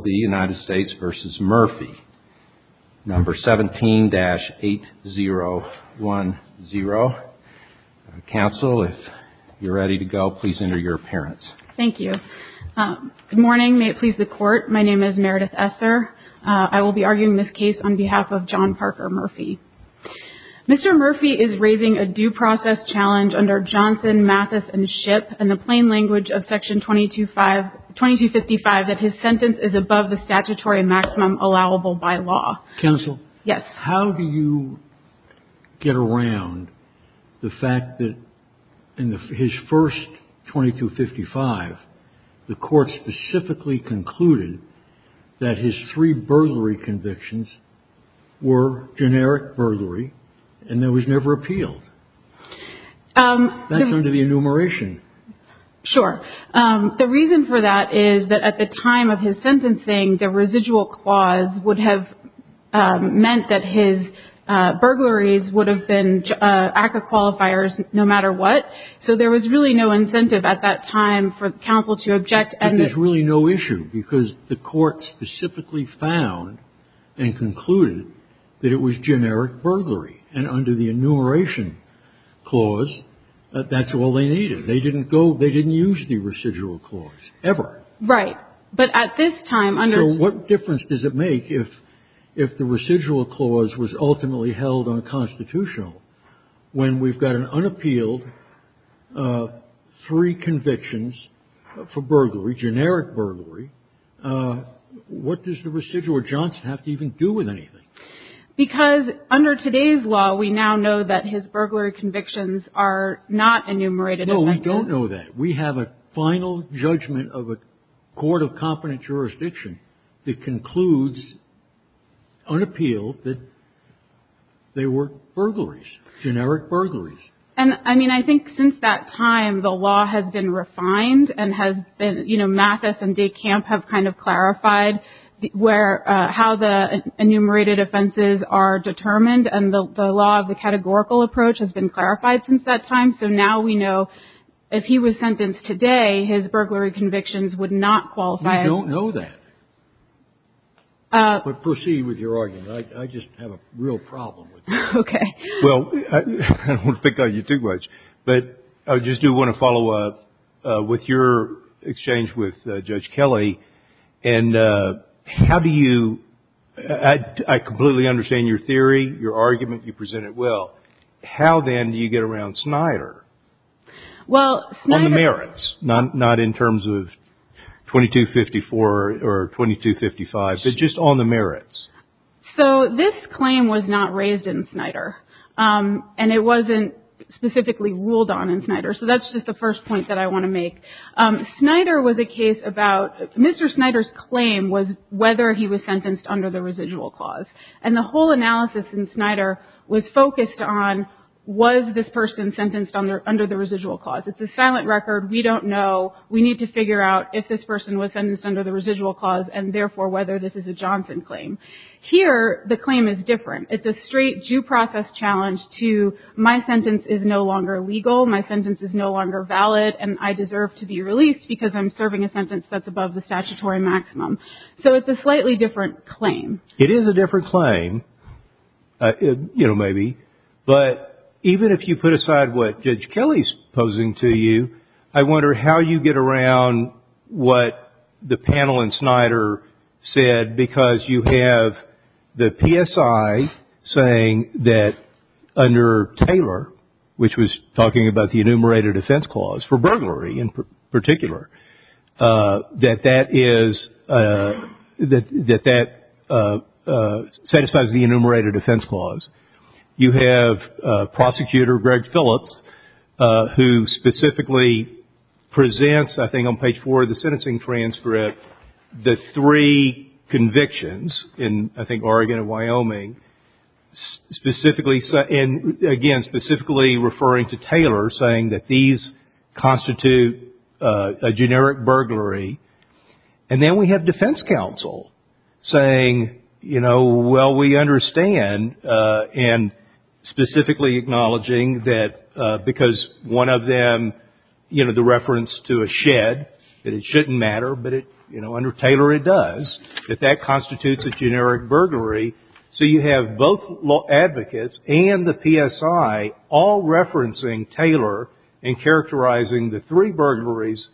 No. 17-8010. Council, if you're ready to go, please enter your appearance. Thank you. Good morning. May it please the Court, my name is Meredith Esser. I will be arguing this case on behalf of John Parker Murphy. Mr. Murphy is raising a due process challenge under Johnson, Mathis, and Shipp in the plain language of Section 2255 that his sentence is above the statutory maximum allowable by law. Council, how do you get around the fact that in his first 2255, the Court specifically concluded that his three burglary convictions were generic burglary and that was never appealed? That's under the enumeration. Sure. The reason for that is that at the time of his sentencing, the residual clause would have meant that his burglaries would have been active qualifiers no matter what, so there was really no incentive at that time for Council to object. But there's really no issue because the Court specifically found and concluded that it was generic burglary and under the enumeration clause, that's all they needed. They didn't go, they didn't use the residual clause ever. Right. But at this time under So what difference does it make if the residual clause was ultimately held unconstitutional when we've got an unappealed three convictions for burglary, generic burglary, what does the residual or Johnson have to even do with anything? Because under today's law, we now know that his burglary convictions are not enumerated. No, we don't know that. We have a final judgment of a court of competent jurisdiction that concludes unappealed that they were burglaries, generic burglaries. And I mean, I think since that time, the law has been refined and has been, you know, Mathis and defenses are determined and the law of the categorical approach has been clarified since that time. So now we know if he was sentenced today, his burglary convictions would not qualify. We don't know that. But proceed with your argument. I just have a real problem with that. Okay. Well, I don't want to pick on you too much, but I just do want to follow up with your exchange with Judge How then do you get around Snyder? Well, on the merits, not in terms of 2254 or 2255, but just on the merits. So this claim was not raised in Snyder and it wasn't specifically ruled on in Snyder. So that's just the first point that I want to make. Snyder was a case about Mr. Snyder's claim was whether he was sentenced under the residual clause. And the whole analysis in Snyder was focused on was this person sentenced under the residual clause. It's a silent record. We don't know. We need to figure out if this person was sentenced under the residual clause and therefore whether this is a Johnson claim. Here, the claim is different. It's a straight due process challenge to my sentence is no longer legal. My sentence is no longer valid and I deserve to be released because I'm serving a sentence that's above the statutory maximum. So it's a slightly different claim. It is a different claim, you know, maybe. But even if you put aside what Judge Kelly's posing to you, I wonder how you get around what the panel in Snyder said because you have the PSI saying that under Taylor, which was talking about the enumerated offense clause for burglary in particular, that that satisfies the enumerated offense clause. You have Prosecutor Greg Phillips who specifically presents, I think on page four of the sentencing transcript, the three convictions in, I think, Oregon and Wyoming. And again, specifically referring to Taylor saying that these constitute a generic burglary. And then we have defense counsel saying, you know, well, we understand and specifically acknowledging that because one of them, you know, the burglary. So you have both advocates and the PSI all referencing Taylor and characterizing the three burglaries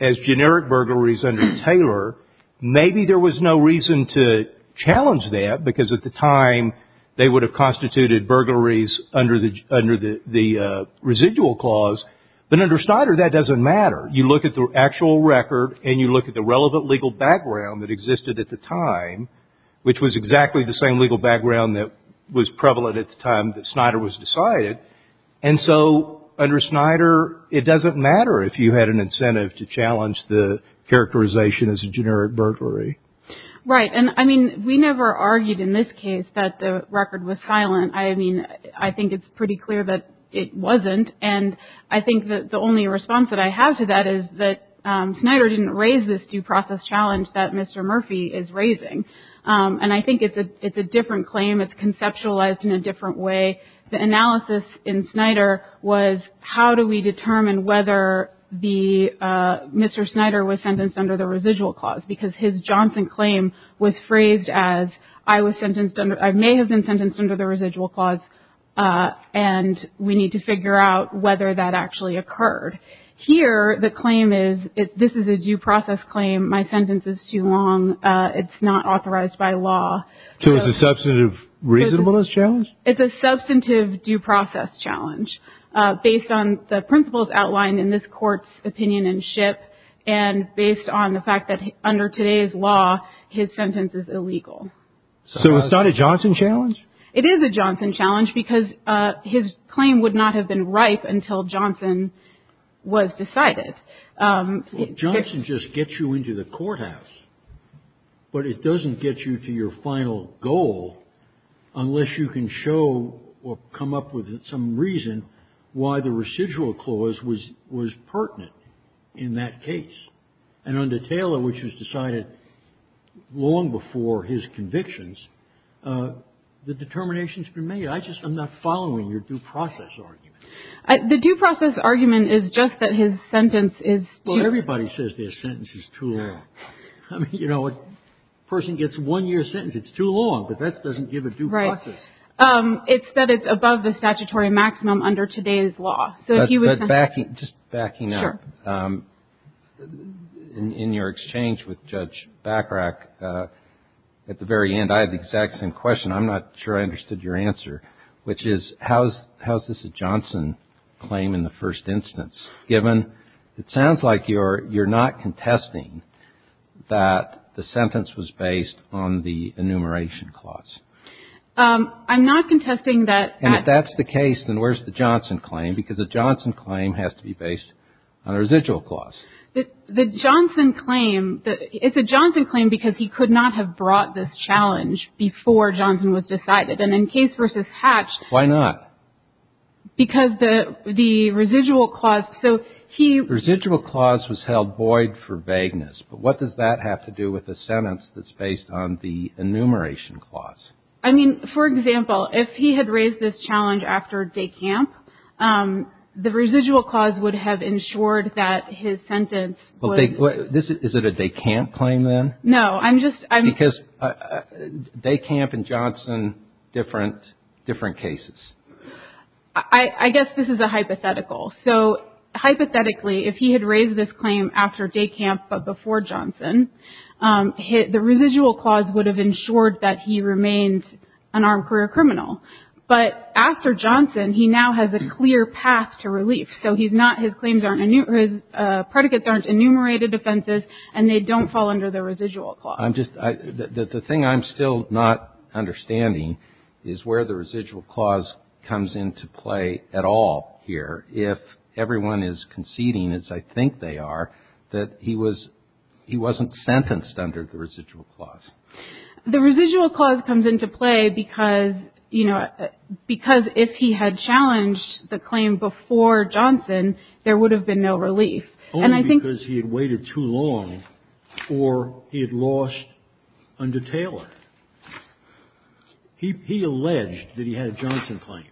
as generic burglaries under Taylor. Maybe there was no reason to challenge that because at the time they would have constituted burglaries under the residual clause. But under Snyder that doesn't matter. You look at the actual record and you look at the relevant legal background that existed at the time, which was exactly the same legal background that was prevalent at the time that Snyder was decided. And so under Snyder it doesn't matter if you had an incentive to challenge the characterization as a generic burglary. Right. And I mean, we never argued in this case that the record was silent. I mean, I think it's pretty clear that it wasn't. And I think that the only response that I have to that is that Snyder didn't raise this due process challenge that Mr. Murphy is raising. And I think it's a different claim. It's conceptualized in a different way. The analysis in Snyder was how do we determine whether the Mr. Snyder was sentenced under the residual clause because his Johnson claim was phrased as I was sentenced under I may have been sentenced under the residual clause and we need to here. The claim is this is a due process claim. My sentence is too long. It's not authorized by law. So it's a substantive reasonableness challenge. It's a substantive due process challenge based on the principles outlined in this court's opinion and ship and based on the fact that under today's law his sentence is illegal. So it's not a Johnson challenge. It is a Johnson challenge because his claim would not have been ripe until Johnson was decided. Johnson just gets you into the courthouse, but it doesn't get you to your final goal unless you can show or come up with some reason why the residual clause was was pertinent in that case. And under Taylor, which was decided long before his convictions, the determination has been made. I just I'm not following your due process argument. The due process argument is just that his sentence is. Well, everybody says their sentence is too long. You know, a person gets one year sentence. It's too long. But that doesn't give a due process. It's that it's above the statutory maximum under today's law. Just backing up. In your exchange with Judge Bacharach at the very end, I had the exact same question. I'm not sure I understood your answer, which is how's how's this a Johnson claim in the first instance, given it sounds like you're you're not contesting that the sentence was based on the enumeration clause. I'm not contesting that. And if that's the case, then where's the Johnson claim? Because a Johnson claim has to be based on a residual clause. The Johnson claim that it's a Johnson claim because he could not have brought this challenge before Johnson was decided. And in case versus Hatch. Why not? Because the the residual clause. So he residual clause was held void for vagueness. But what does that have to do with the sentence that's based on the enumeration clause? I mean, for example, if he had raised this challenge after day camp, the residual clause would have ensured that his sentence. Is it a day camp claim then? No, I'm just. Because day camp and Johnson different different cases. I guess this is a hypothetical. So hypothetically, if he had raised this claim after day camp, but before Johnson hit, the residual clause would have ensured that he remained an armed career criminal. But after Johnson, he now has a clear path to relief. So he's not his claims aren't his predicates, aren't enumerated offenses, and they don't fall under the residual clause. I'm just the thing I'm still not understanding is where the residual clause comes into play at all here. If everyone is conceding, as I think they are, that he was he wasn't sentenced under the residual clause. The residual clause comes into play because, you know, because if he had challenged the claim before Johnson, there would have been no relief. And I think because he had waited too long or he had lost under Taylor, he he alleged that he had a Johnson claim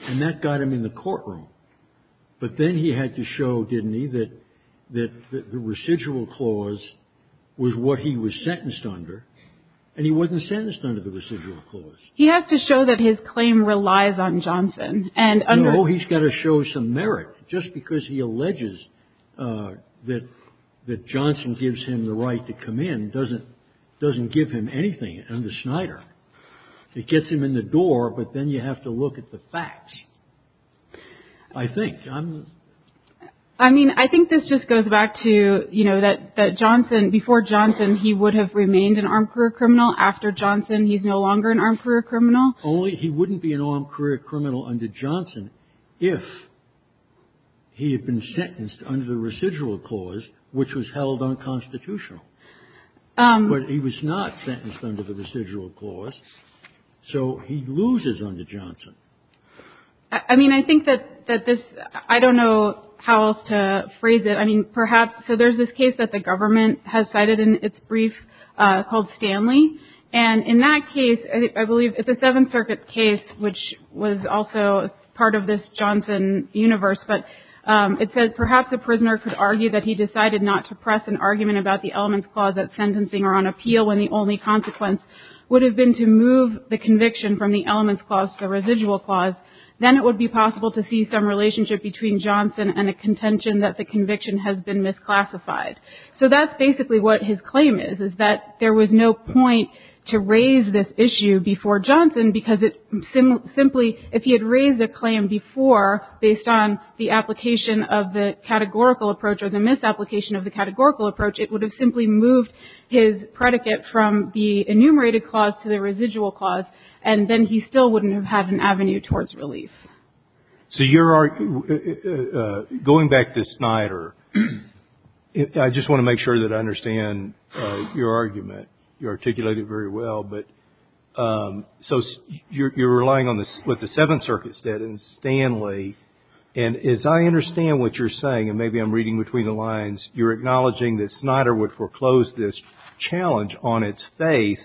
and that got him in the courtroom. But then he had to show, didn't he, that that the residual clause was what he was sentenced under. And he wasn't sentenced under the residual clause. He has to show that his claim relies on Johnson. And he's got to show some merit just because he alleges that that Johnson gives him the right to come in. Doesn't doesn't give him anything. And the Snyder gets him in the door. But then you have to look at the facts, I think. I mean, I think this just goes back to, you know, that that Johnson before Johnson, he would have remained an armed career criminal after Johnson. He's no longer an armed career criminal. Only he wouldn't be an armed career criminal under Johnson if he had been sentenced under the residual clause, which was held unconstitutional. But he was not sentenced under the residual clause. So he loses under Johnson. I mean, I think that that this I don't know how else to phrase it. I mean, perhaps. So there's this case that the government has cited in its brief called Stanley. And in that case, I believe it's a Seventh Circuit case, which was also part of this Johnson universe. But it says perhaps a prisoner could argue that he decided not to press an argument about the elements clause that sentencing or on appeal when the only consequence would have been to move the conviction from the elements clause, the residual clause, then it would be possible to see some relationship between Johnson and a contention that the conviction has been misclassified. So that's basically what his claim is, is that there was no point to raise this issue before Johnson, because it simply if he had raised a claim before based on the application of the categorical approach or the misapplication of the categorical approach, it would have simply moved his predicate from the enumerated clause to the residual clause. And then he still wouldn't have had an avenue towards relief. So you're going back to Snyder. I just want to make sure that I understand your argument. You articulate it very well. But so you're relying on this with the Seventh Circuit's dead and Stanley. And as I understand what you're saying, and maybe I'm reading between the lines, you're acknowledging that Snyder would foreclose this challenge on its face,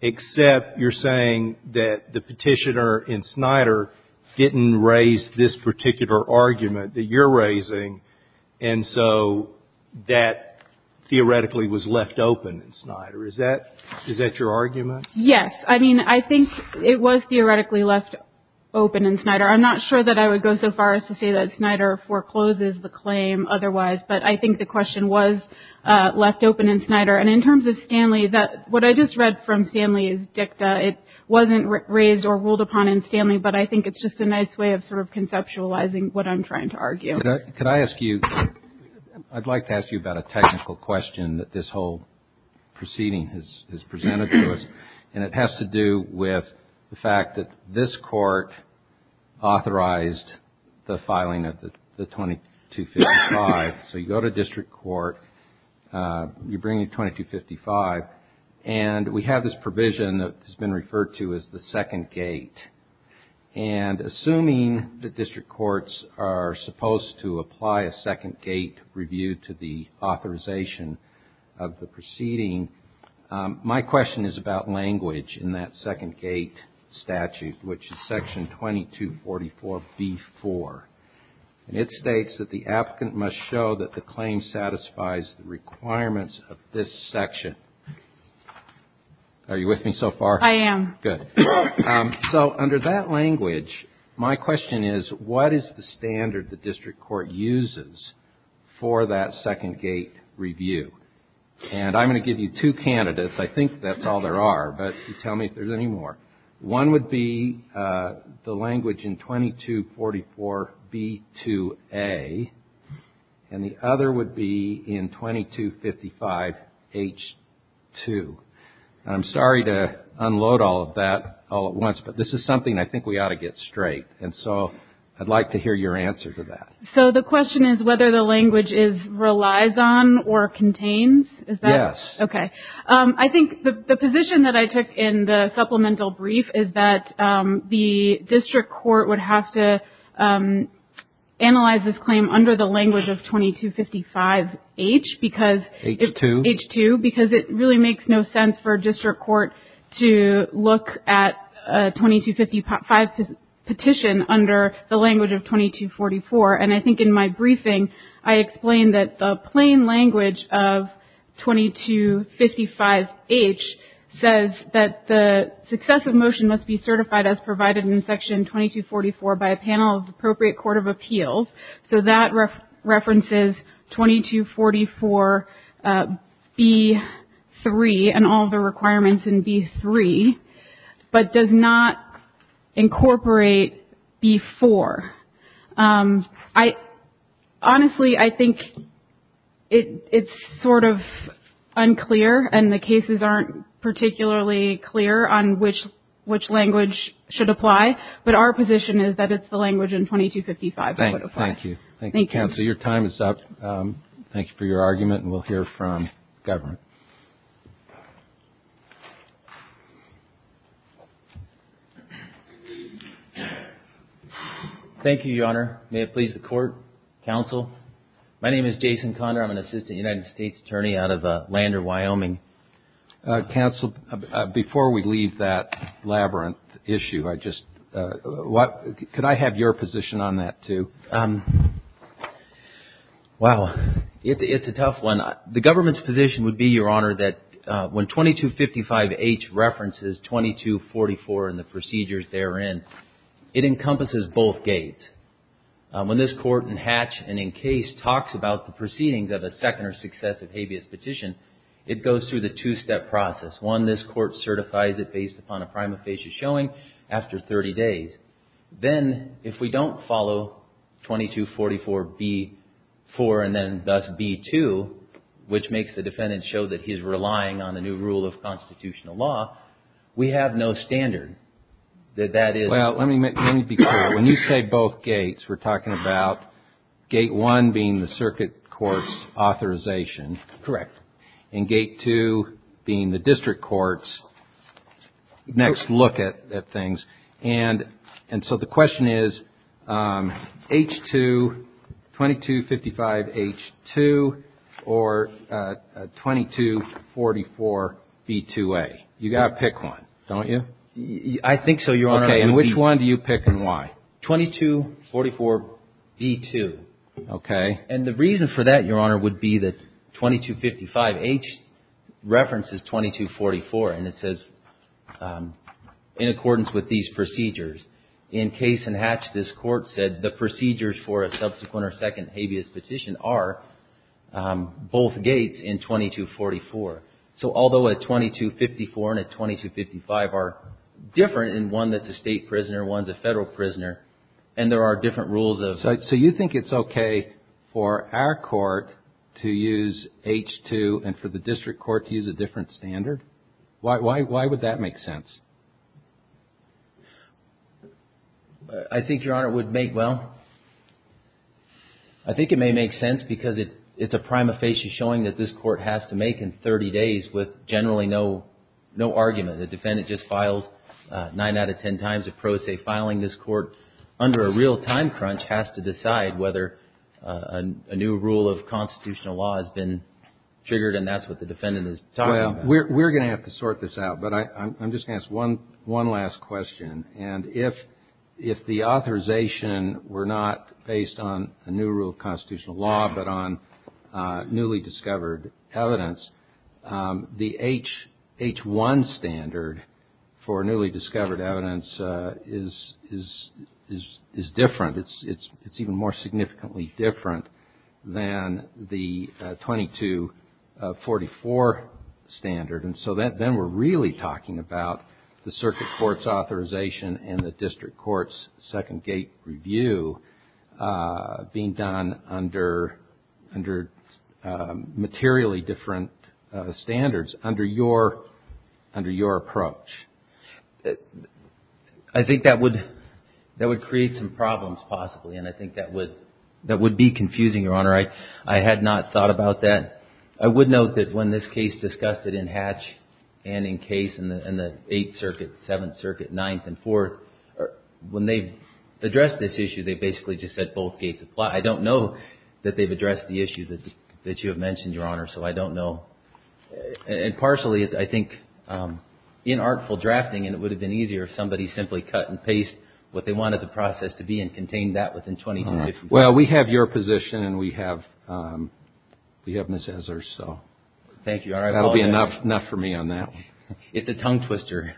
except you're saying that the petitioner in Snyder didn't raise this particular argument that you're raising, and so that theoretically was left open in Snyder. Is that your argument? Yes. I mean, I think it was theoretically left open in Snyder. I'm not sure that I would go so far as to say that Snyder forecloses the claim otherwise, but I think the question was left open in Snyder. And in terms of Stanley, what I just read from Stanley is dicta. It wasn't raised or ruled upon in Stanley, but I think it's just a nice way of sort of conceptualizing what I'm trying to argue. Could I ask you, I'd like to ask you about a technical question that this whole proceeding has presented to us, and it has to do with the fact that this Court authorized the filing of the 2255. So you go to district court, you bring your 2255, and we have this provision that has been referred to as the second gate. And assuming that district courts are supposed to apply a second gate review to the authorization of the proceeding, my question is about language in that second gate statute, which is section 2244b-4. And it states that the applicant must show that the claim satisfies the requirements of this section. Are you with me so far? I am. Good. So under that language, my question is, what is the standard the district court uses for that second gate review? And I'm going to give you two candidates. I think that's all there are, but tell me if there's any more. One would be the language in 2244b-2a, and the other would be in 2255h-2. I'm sorry to unload all of that all at once, but this is something I think we ought to get straight. And so I'd like to hear your answer to that. So the question is whether the language relies on or contains? Yes. Okay. I think the position that I took in the supplemental brief is that the district court would have to analyze this claim under the language of 2255h because it really makes no sense for a district court to look at a 2255 petition under the language of 2244. And I think in my briefing I explained that the plain language of 2255h says that the successive motion must be certified as provided in Section 2244 by a panel of the appropriate court of appeals. So that references 2244b-3 and all the requirements in b-3, but does not incorporate b-4. Honestly, I think it's sort of unclear and the cases aren't particularly clear on which language should apply, but our position is that it's the language in 2255 that would apply. Thank you. Thank you, counsel. Your time is up. Thank you for your argument, and we'll hear from the government. Thank you, Your Honor. May it please the Court, counsel. My name is Jason Conner. I'm an assistant United States attorney out of Lander, Wyoming. Counsel, before we leave that labyrinth issue, I just — could I have your position on that, too? Wow, it's a tough one. The government's position would be, Your Honor, that when 2255h references 2244 and the procedures therein, it encompasses both gates. When this Court in Hatch and in Case talks about the proceedings of a second or successive habeas petition, it goes through the two-step process. One, this Court certifies it based upon a prima facie showing after 30 days. Then, if we don't follow 2244b-4 and then thus b-2, which makes the defendant show that he's relying on the new rule of constitutional law, we have no standard that that is — Well, let me be clear. When you say both gates, we're talking about gate one being the circuit court's authorization. Correct. And gate two being the district court's next look at things. And so the question is, H-2, 2255h-2 or 2244b-2a? You've got to pick one, don't you? I think so, Your Honor. Okay. And which one do you pick and why? 2244b-2. Okay. And the reason for that, Your Honor, would be that 2255h references 2244, and it says in accordance with these procedures. In Case and Hatch, this Court said the procedures for a subsequent or second habeas petition are both gates in 2244. So although a 2254 and a 2255 are different in one that's a state prisoner and one's a Federal prisoner, and there are different rules of — So you think it's okay for our Court to use H-2 and for the district court to use a different standard? Why would that make sense? I think, Your Honor, it would make — well, I think it may make sense because it's a prima facie showing that this Court has to make in 30 days with generally no argument. The defendant just filed nine out of ten times a pro se filing. This Court, under a real time crunch, has to decide whether a new rule of constitutional law has been triggered, and that's what the defendant is talking about. Well, we're going to have to sort this out, but I'm just going to ask one last question. And if the authorization were not based on a new rule of constitutional law but on newly discovered evidence, the H-1 standard for newly discovered evidence is different. It's even more significantly different than the 2244 standard. And so then we're really talking about the circuit court's authorization and the district court's second gate review being done under materially different standards under your approach. I think that would create some problems, possibly, and I think that would be confusing, Your Honor. I had not thought about that. I would note that when this case discussed it in Hatch and in Case and the Eighth Circuit, Seventh Circuit, Ninth and Fourth, when they addressed this issue, they basically just said both gates apply. I don't know that they've addressed the issue that you have mentioned, Your Honor, so I don't know. And partially, I think, in artful drafting, it would have been easier if somebody simply cut and pasted what they wanted the process to be and contained that within 22 days. Well, we have your position and we have Ms. Ezzer's, so that will be enough for me on that. It's a tongue twister.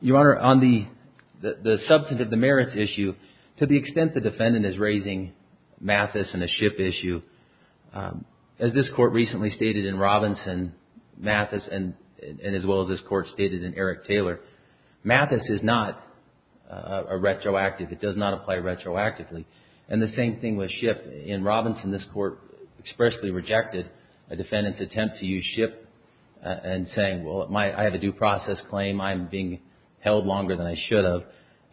Your Honor, on the substantive demerits issue, to the extent the defendant is raising Mathis and a ship issue, as this Court recently stated in Robinson, Mathis, and as well as this Court stated in Eric Taylor, Mathis is not a retroactive. It does not apply retroactively. And the same thing with ship. In Robinson, this Court expressly rejected a defendant's attempt to use ship and saying, well, I have a due process claim. I'm being held longer than I should have.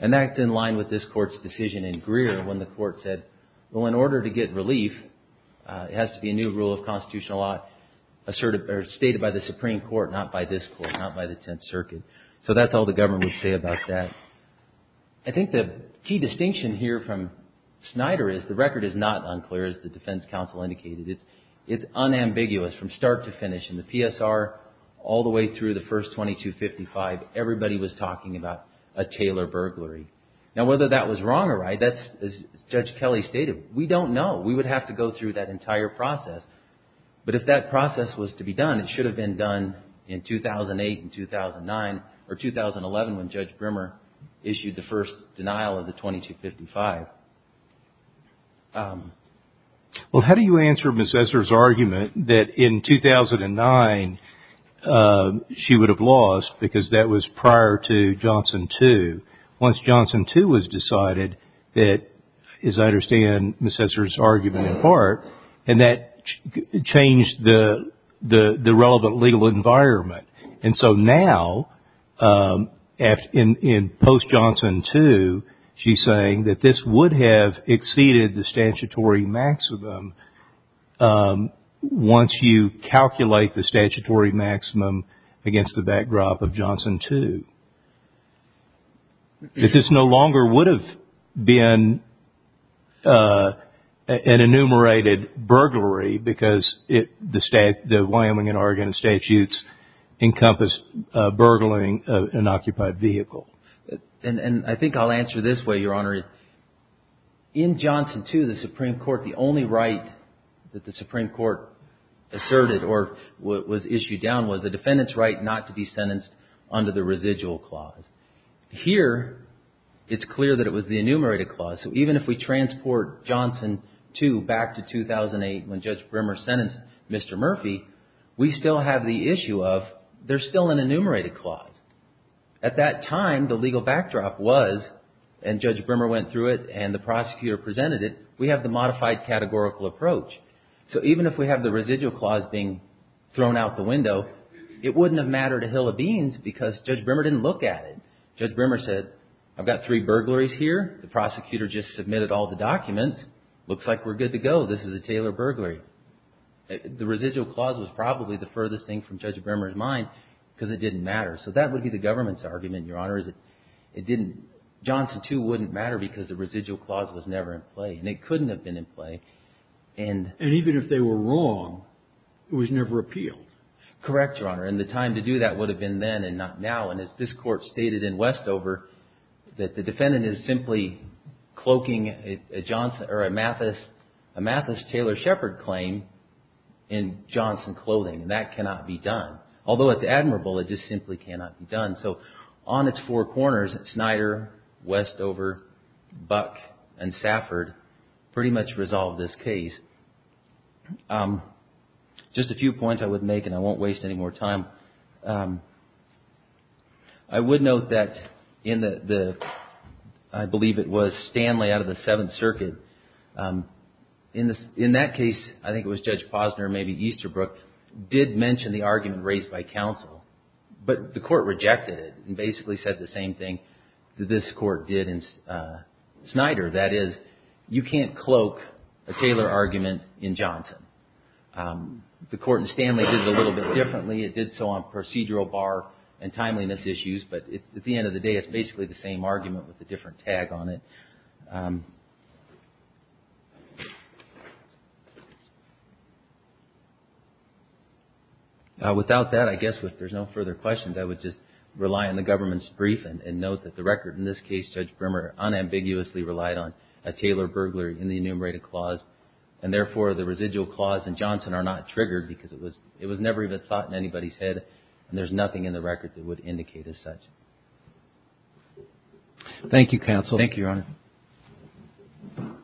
And that's in line with this Court's decision in Greer when the Court said, well, in order to get relief, it has to be a new rule of constitutional law stated by the Supreme Court, not by this Court, not by the Tenth Circuit. So that's all the government would say about that. I think the key distinction here from Snyder is the record is not unclear, as the defense counsel indicated. It's unambiguous from start to finish. In the PSR all the way through the first 2255, everybody was talking about a Taylor burglary. Now, whether that was wrong or right, as Judge Kelly stated, we don't know. We would have to go through that entire process. But if that process was to be done, it should have been done in 2008 and 2009, or 2011 when Judge Brimmer decided to pursue the case. Well, how do you answer Ms. Esser's argument that in 2009 she would have lost because that was prior to Johnson 2? Once Johnson 2 was decided that, as I understand Ms. Esser's argument in part, and that changed the relevant legal environment. And so now, in post-Johnson 2, she's saying that this would have exceeded the statutory maximum once you calculate the statutory maximum against the backdrop of Johnson 2. This no longer would have been an enumerated burglary because the Wyoming and Oregon statutes encompassed burglary of an occupied vehicle. And I think I'll answer this way, Your Honor. In Johnson 2, the Supreme Court, the only right that the Supreme Court asserted or was issued down was the defendant's right not to be sentenced under the residual clause. Here, it's clear that it was the enumerated clause. So even if we transport Johnson 2 back to 2008 when Judge Brimmer sentenced Mr. Murphy, we still have the issue of there's still an enumerated clause. At that time, the legal backdrop was, and Judge Brimmer went through it and the prosecutor presented it, we have the modified categorical approach. So even if we have the residual clause being thrown out the window, it wouldn't have mattered a hill of beans because Judge Brimmer didn't look at it. Judge Brimmer said, I've got three burglaries here. The prosecutor just submitted all the documents. Looks like we're good to go. This is a Taylor burglary. The residual clause was probably the furthest thing from Judge Brimmer's mind because it didn't matter. So that would be the government's argument, Your Honor, is that it didn't – Johnson 2 wouldn't matter because the residual clause was never in play. And it couldn't have been in play. And even if they were wrong, it was never appealed. Correct, Your Honor. And the time to do that would have been then and not now. And as this Court stated in Westover, that the defendant is simply cloaking a Mathis Taylor Shepard claim in Johnson clothing. And that cannot be done. Although it's admirable, it just simply cannot be done. So on its four corners, Snyder, Westover, Buck, and Safford pretty much resolved this case. Just a few points I would make, and I won't waste any more time. I would note that in the – I believe it was Stanley out of the Seventh Circuit. In that case, I think it was Judge Posner, maybe Easterbrook, did mention the argument raised by counsel. But the Court rejected it and basically said the same thing that this Court did in Snyder. That is, you can't cloak a Taylor argument in Johnson. The Court in Stanley did it a little bit differently. It did so on procedural bar and timeliness issues. But at the end of the day, it's basically the same argument with a different tag on it. Without that, I guess if there's no further questions, I would just rely on the government's brief and note that the record in this case, Judge Brimmer, unambiguously relied on a Taylor burglary in the enumerated clause. And therefore, the residual clause in Johnson are not triggered because it was never even thought in anybody's head and there's nothing in the record that would indicate as such. Thank you, counsel. Thank you, Your Honor.